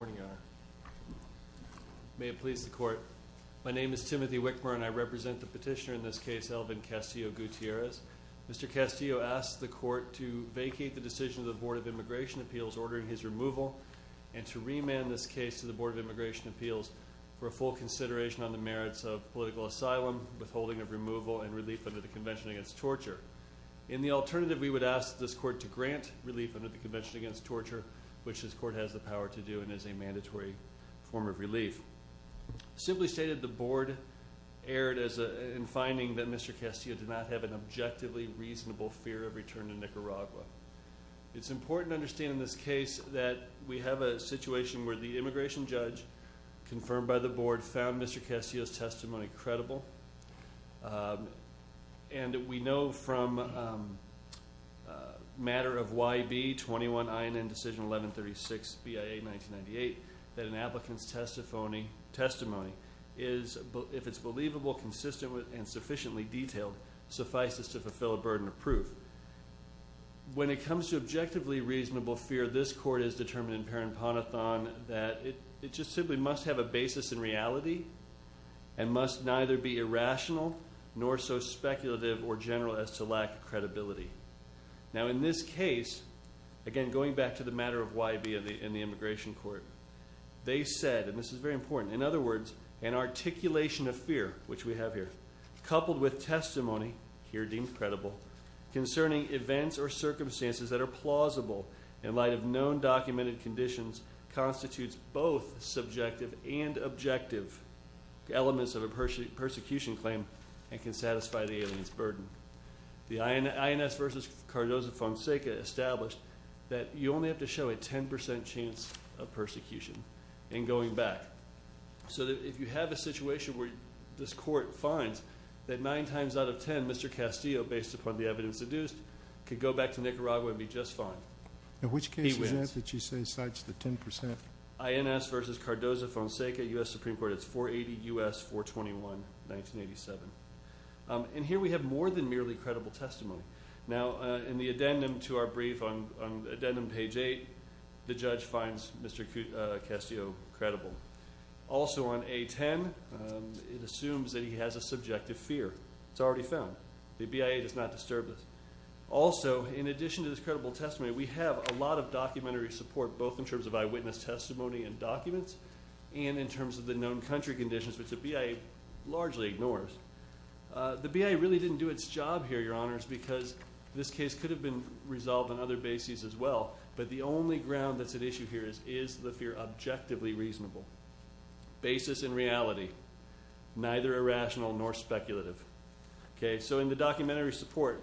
My name is Timothy Wickmer and I represent the petitioner in this case, Alvin Castillo-Gutierrez. Mr. Castillo asked the Court to vacate the decision of the Board of Immigration Appeals ordering his removal and to remand this case to the Board of Immigration Appeals for a full consideration on the merits of political asylum, withholding of removal, and relief under the Convention Against Torture. In the alternative, we would ask this Court to grant relief under the Convention Against Torture, which is a mandatory form of relief. Simply stated, the Board erred in finding that Mr. Castillo did not have an objectively reasonable fear of return to Nicaragua. It's important to understand in this case that we have a situation where the immigration judge confirmed by the Board found Mr. Castillo's testimony credible. And we know from Matter of YB 21 INN Decision 1136 BIA 1998 that an applicant's testimony is, if it's believable, consistent, and sufficiently detailed, suffices to fulfill a burden of proof. When it comes to objectively reasonable fear, this Court has determined in Paremponathan that it just simply must have a basis in reality and must neither be irrational nor so speculative or general as to lack credibility. Now in this case, again going back to the Matter of YB in the Immigration Court, they said, and this is very important, in other words, an articulation of fear, which we have here, coupled with testimony, here deemed credible, concerning events or circumstances that are plausible in light of known documented conditions constitutes both subjective and objective elements of a persecution claim and can satisfy the alien's burden. The INS versus Cardozo-Fonseca established that you only have to show a 10% chance of persecution in going back. So that if you have a situation where this Court finds that nine times out of ten, Mr. Carago would be just fine. He wins. In which case is that that you say cites the 10%? INS versus Cardozo-Fonseca, U.S. Supreme Court, it's 480 U.S. 421, 1987. And here we have more than merely credible testimony. Now in the addendum to our brief on addendum page 8, the judge finds Mr. Castillo credible. Also on A10, it assumes that he has a subjective fear. It's already found. The BIA does not disturb this. Also, in addition to this credible testimony, we have a lot of documentary support both in terms of eyewitness testimony and documents and in terms of the known country conditions which the BIA largely ignores. The BIA really didn't do its job here, Your Honors, because this case could have been resolved on other bases as well. But the only ground that's at issue here is, is the fear objectively reasonable? Basis and reality. Neither irrational nor speculative. Okay, so in the documentary support,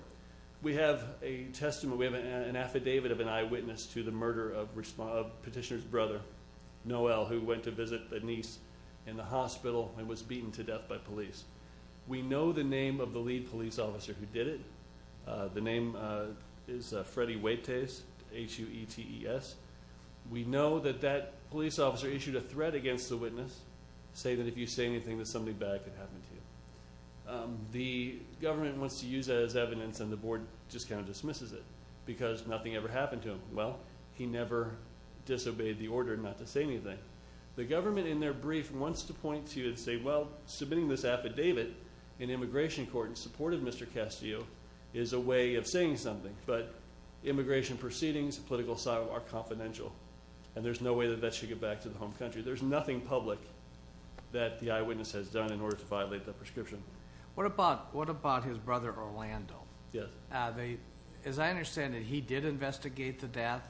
we have a testament, we have an affidavit of an eyewitness to the murder of petitioner's brother, Noel, who went to visit a niece in the hospital and was beaten to death by police. We know the name of the lead police officer who did it. The name is Freddy Huetes, H-U-E-T-E-S. We know that that police officer issued a threat against the witness, saying that if you say anything, that something bad could happen to you. The government wants to use that as evidence and the board just kind of dismisses it because nothing ever happened to him. Well, he never disobeyed the order not to say anything. The government in their brief wants to point to and say, well, submitting this affidavit in immigration court in support of Mr. Castillo is a way of saying something. But immigration proceedings, political asylum, are confidential. And there's no way that that should get back to the home country. There's nothing public that the eyewitness has done in order to violate the prescription. What about his brother, Orlando? As I understand it, he did investigate the death,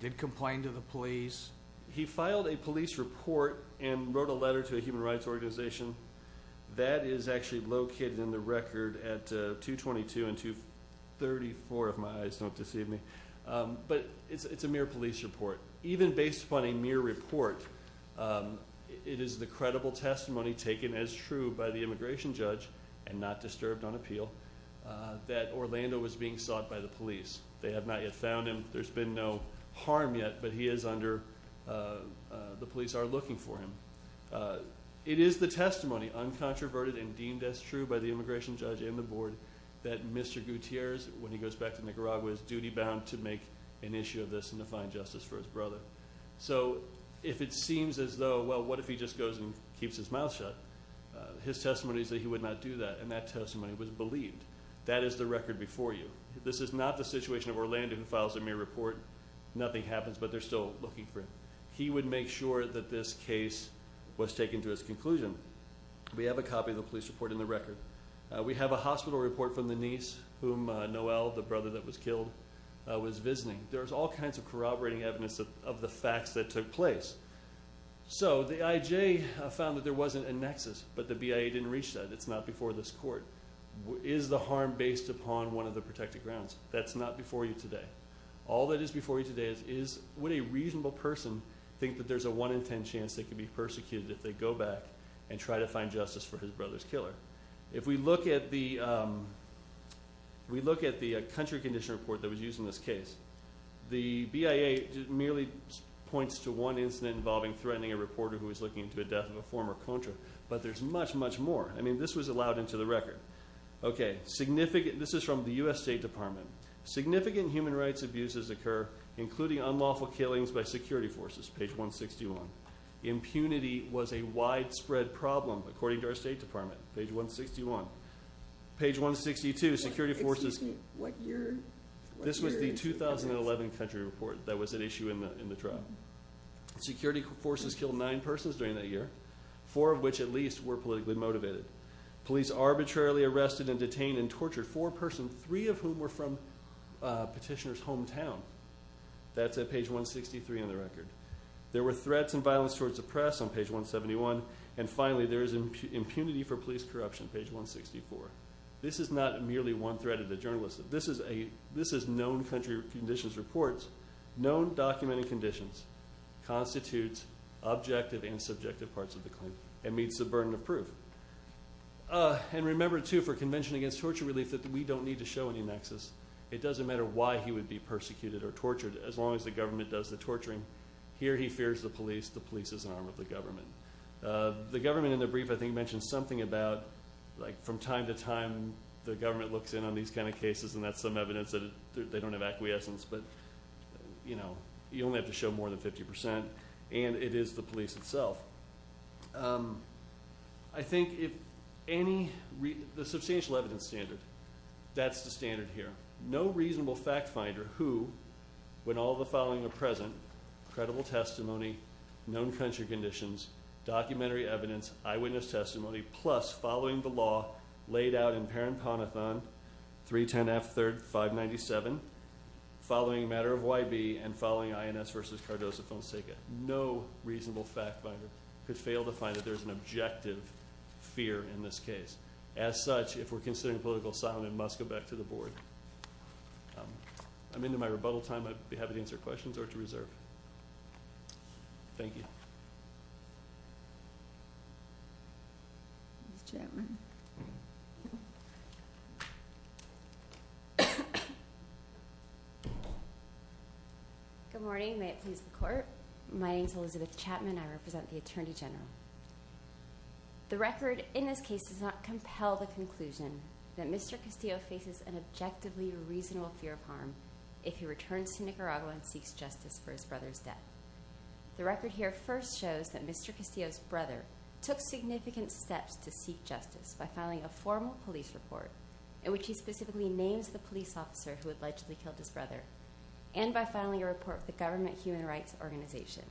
did complain to the police. He filed a police report and wrote a letter to a human rights organization. That is actually located in the record at 222 and 234, if my eyes don't deceive me. But it's a mere police report. Even based upon a mere report, it is the credible testimony taken as true by the immigration judge and not disturbed on appeal that Orlando was being sought by the police. They have not yet found him. There's been no harm yet, but he is under, the police are looking for him. It is the testimony, uncontroverted and deemed as true by the immigration judge and the board that Mr. Gutierrez, when he goes back to Nicaragua, is duty bound to make an issue of this and his brother. So, if it seems as though, well, what if he just goes and keeps his mouth shut? His testimony is that he would not do that, and that testimony was believed. That is the record before you. This is not the situation of Orlando who files a mere report. Nothing happens, but they're still looking for him. He would make sure that this case was taken to its conclusion. We have a copy of the police report in the record. We have a hospital report from the niece whom Noel, the brother that was killed, was visiting. There's all kinds of corroborating evidence of the facts that took place. So, the IJ found that there wasn't a nexus, but the BIA didn't reach that. It's not before this court. Is the harm based upon one of the protected grounds? That's not before you today. All that is before you today is, would a reasonable person think that there's a one in ten chance they could be persecuted if they go back and try to find justice for his brother's killer? If we look at the country condition report that was used in this case, the BIA merely points to one incident involving threatening a reporter who was looking into the death of a former contractor, but there's much, much more. This was allowed into the record. This is from the U.S. State Department. Significant human rights abuses occur, including unlawful killings by security forces. Page 161. Impunity was a widespread problem, according to our State Department. Page 161. Page 162, security forces. This was the 2011 country report that was at issue in the trial. Security forces killed nine persons during that year, four of which, at least, were politically motivated. Police arbitrarily arrested and detained and tortured four persons, three of whom were from Petitioner's hometown. That's at page 163 in the record. There were threats and violence towards the press on page 171, and finally, there is impunity for police corruption, page 164. This is not merely one threat to the journalist. This is known country conditions reports, known documented conditions, constitutes objective and subjective parts of the claim, and meets the burden of proof. And remember, too, for Convention Against Torture Relief, that we don't need to show any nexus. It doesn't matter why he would be persecuted or tortured, as long as the government does the torturing. Here, he fears the police. The police is an arm of the government. The government, in the brief, I think, mentioned something about, like, from time to time, the government looks in on these kind of cases, and that's some evidence that they don't have acquiescence. But, you know, you only have to show more than 50 percent, and it is the police itself. I think if any, the substantial evidence standard, that's the standard here. No reasonable fact finder who, when all the following are present, credible testimony, known country conditions, documentary evidence, eyewitness testimony, plus following the law laid out in Parent Ponathon 310F3-597, following a matter of YB, and following INS v. Cardozo Fonseca. No reasonable fact finder could fail to find that there's an objective fear in this case. As such, if we're considering political asylum, it must go back to the board. I'm into my rebuttal time. I'd be happy to answer questions or to reserve. Thank you. Ms. Chapman. Good morning. May it please the Court. My name's Elizabeth Chapman. I represent the Attorney General. The record in this case does not compel the conclusion that Mr. Castillo faces an objectively reasonable fear of harm if he returns to Nicaragua and seeks justice for his brother's death. The record here first shows that Mr. Castillo's brother took significant steps to seek justice by filing a formal police report in which he specifically names the police officer who allegedly killed his brother, and by filing a report with the Government Human Rights Organization.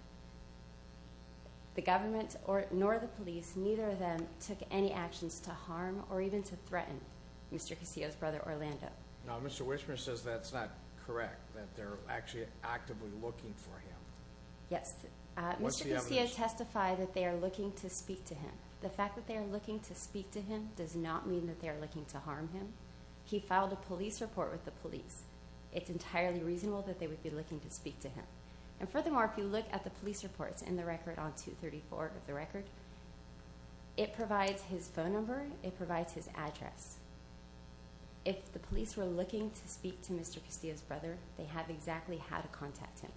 The government nor the police, neither of them, took any actions to harm or even to threaten Mr. Castillo's brother, Orlando. Now, Mr. Wishman says that's not correct, that they're actually actively looking for him. Yes. What's the evidence? Mr. Castillo testified that they are looking to speak to him. The fact that they are looking to speak to him does not mean that they are looking to harm him. He filed a police report with the police. It's entirely reasonable that they would be looking to speak to him. And furthermore, if you look at the police reports in the record on 234 of the record, it provides his phone number, it provides his address. If the police were looking to speak to Mr. Castillo's brother, they have exactly how to contact him.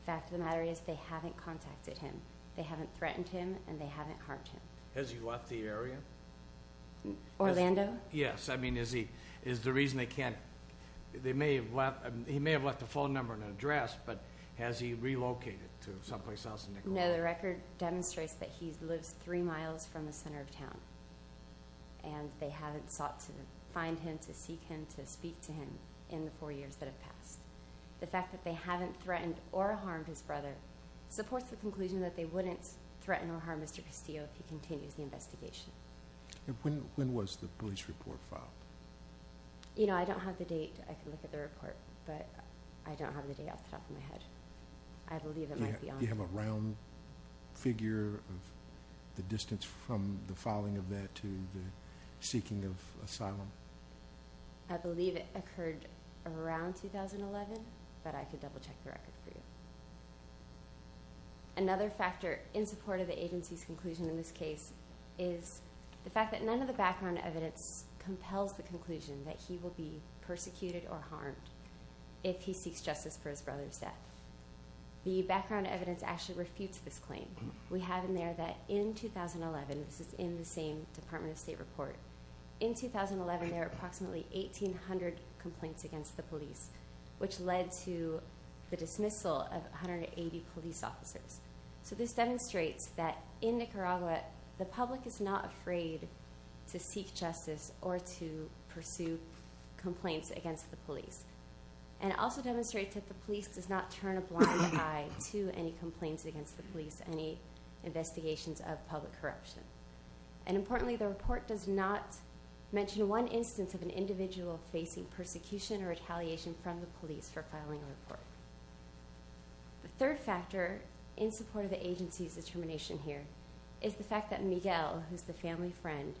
The fact of the matter is they haven't contacted him. They haven't threatened him, and they haven't harmed him. Has he left the area? Orlando? Yes. I mean, is he, is the reason they can't, they may have left, he may have left a phone number and an address, but has he relocated to someplace else in Nicaragua? No. The record demonstrates that he lives three miles from the center of town, and they haven't sought to find him, to seek him, to speak to him in the four years that have passed. The fact that they haven't threatened or harmed his brother supports the conclusion that they wouldn't threaten or harm Mr. Castillo if he continues the investigation. When was the police report filed? You know, I don't have the date. I can look at the report, but I don't have the date off the top of my head. I believe it might be on... Do you have a round figure of the distance from the filing of that to the seeking of asylum? I believe it occurred around 2011, but I could double-check the record for you. Another factor in support of the agency's conclusion in this case is the fact that none of the background evidence compels the conclusion that he will be persecuted or harmed if he seeks justice for his brother's death. The background evidence actually refutes this claim. We have in there that in 2011, this is in the same Department of State report, in 2011 there were approximately 1,800 complaints against the police, which led to the dismissal of 180 police officers. So this demonstrates that in Nicaragua, the public is not afraid to seek justice or to pursue complaints against the police. And it also demonstrates that the police does not turn a blind eye to any complaints against the police, any investigations of public corruption. And importantly, the report does not mention one instance of an individual facing persecution or retaliation from the police for filing a report. The third factor in support of the agency's determination here is the fact that Miguel, who is the family friend,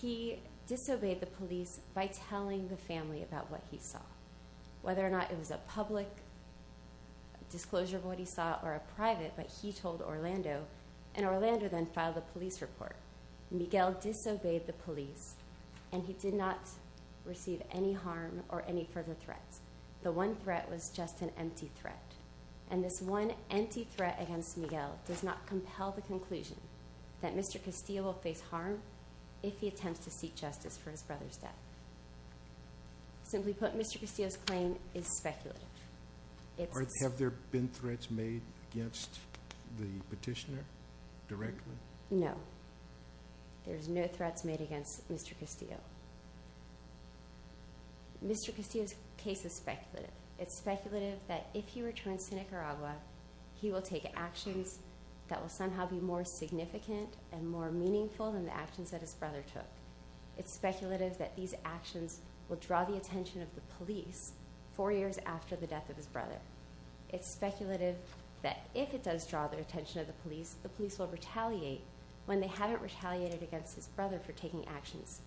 he disobeyed the police by telling the family about what he saw, whether or not it was a public disclosure of what he saw or a private, but he told Orlando, and Orlando then filed a police report. Miguel disobeyed the police, and he did not receive any harm or any further threats. The one threat was just an empty threat. And this one empty threat against Miguel does not compel the conclusion that Mr. Castillo will face harm if he attempts to seek justice for his brother's death. Simply put, Mr. Castillo's claim is speculative. Have there been threats made against the petitioner directly? No. There's no threats made against Mr. Castillo. Mr. Castillo's case is speculative. It's speculative that if he returns to Nicaragua, he will take actions that will somehow be more significant and more meaningful than the actions that his brother took. It's speculative that these actions will draw the attention of the police four years after the death of his brother. It's speculative that if it does draw the attention of the police, the police will retaliate when they haven't retaliated against his brother for taking actions.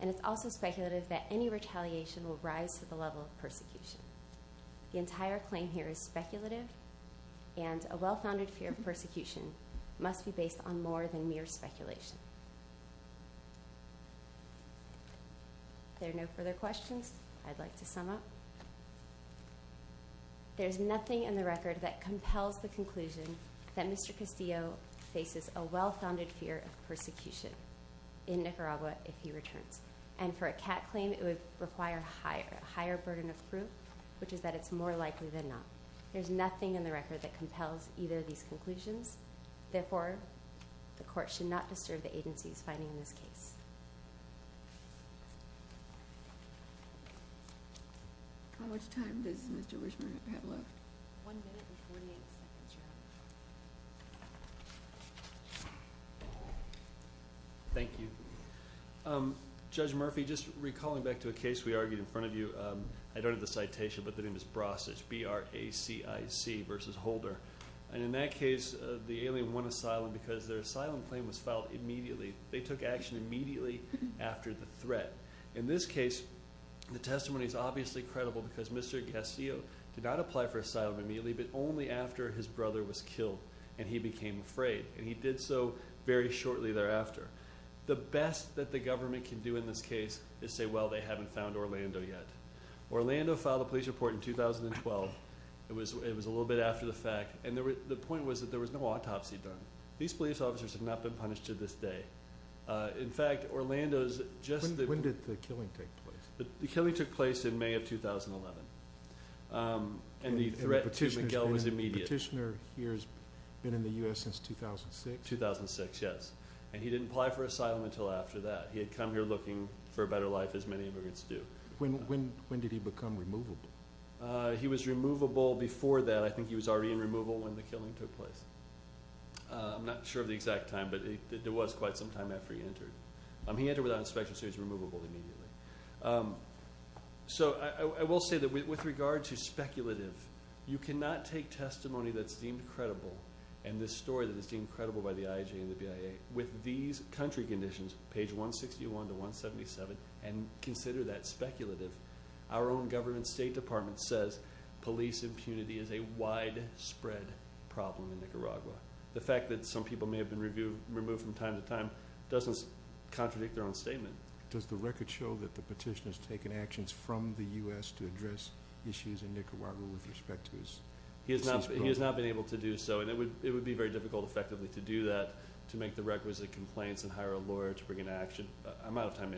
And it's also speculative that any retaliation will rise to the level of persecution. The entire claim here is speculative, and a well-founded fear of persecution must be based on more than mere speculation. If there are no further questions, I'd like to sum up. There's nothing in the record that compels the conclusion that Mr. Castillo faces a well-founded fear of persecution in Nicaragua if he returns. And for a CAT claim, it would require a higher burden of proof, which is that it's more likely than not. There's nothing in the record that compels either of these conclusions. Therefore, the court should not disturb the agency's finding in this case. How much time does Mr. Wishman have left? One minute and 48 seconds, Your Honor. Thank you. Judge Murphy, just recalling back to a case we argued in front of you, I don't have the citation, but the name is Brasich, B-R-A-C-I-C, versus Holder. And in that case, the alien won asylum because their asylum claim was filed immediately. They took action immediately after the threat. In this case, the testimony is obviously credible because Mr. Castillo did not apply for asylum immediately, but only after his brother was killed and he became afraid, and he did so very shortly thereafter. The best that the government can do in this case is say, well, they haven't found Orlando yet. Orlando filed a police report in 2012. It was a little bit after the fact, and the point was that there was no autopsy done. These police officers have not been punished to this day. In fact, Orlando's just the- When did the killing take place? The killing took place in May of 2011, and the threat to Miguel was immediate. The petitioner here has been in the U.S. since 2006? 2006, yes. And he didn't apply for asylum until after that. He had come here looking for a better life, as many immigrants do. When did he become removable? He was removable before that. I think he was already in removal when the killing took place. I'm not sure of the exact time, but there was quite some time after he entered. He entered without inspection, so he was removable immediately. I will say that with regard to speculative, you cannot take testimony that's deemed credible and this story that is deemed credible by the IAJ and the BIA with these country conditions, page 161 to 177, and consider that speculative. Our own government state department says police impunity is a widespread problem in Nicaragua. The fact that some people may have been removed from time to time doesn't contradict their own statement. Does the record show that the petitioner has taken actions from the U.S. to address issues in Nicaragua with respect to his- He has not been able to do so, and it would be very difficult, effectively, to do that, to make the requisite complaints and hire a lawyer to bring an action. I'm out of time.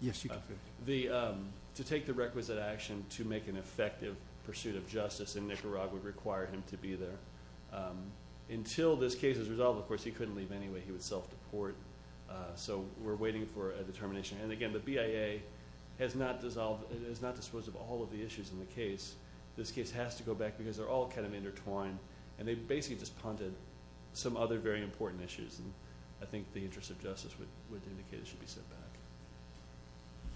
Yes, you can finish. To take the requisite action to make an effective pursuit of justice in Nicaragua would require him to be there. Until this case is resolved, of course, he couldn't leave anyway. He would self-deport. So we're waiting for a determination. And again, the BIA has not disposed of all of the issues in the case. This case has to go back because they're all kind of intertwined, and they basically just punted some other very important issues. And I think the interest of justice would indicate it should be sent back.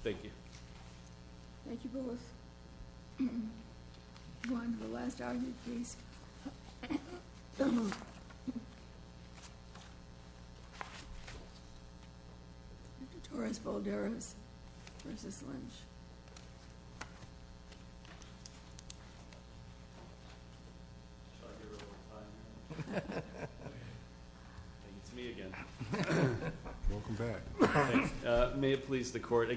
Thank you. Thank you both. We'll go on to the last argument, please. Torres-Balderos v. Lynch. Thank you. It's me again. Welcome back. May it please the Court.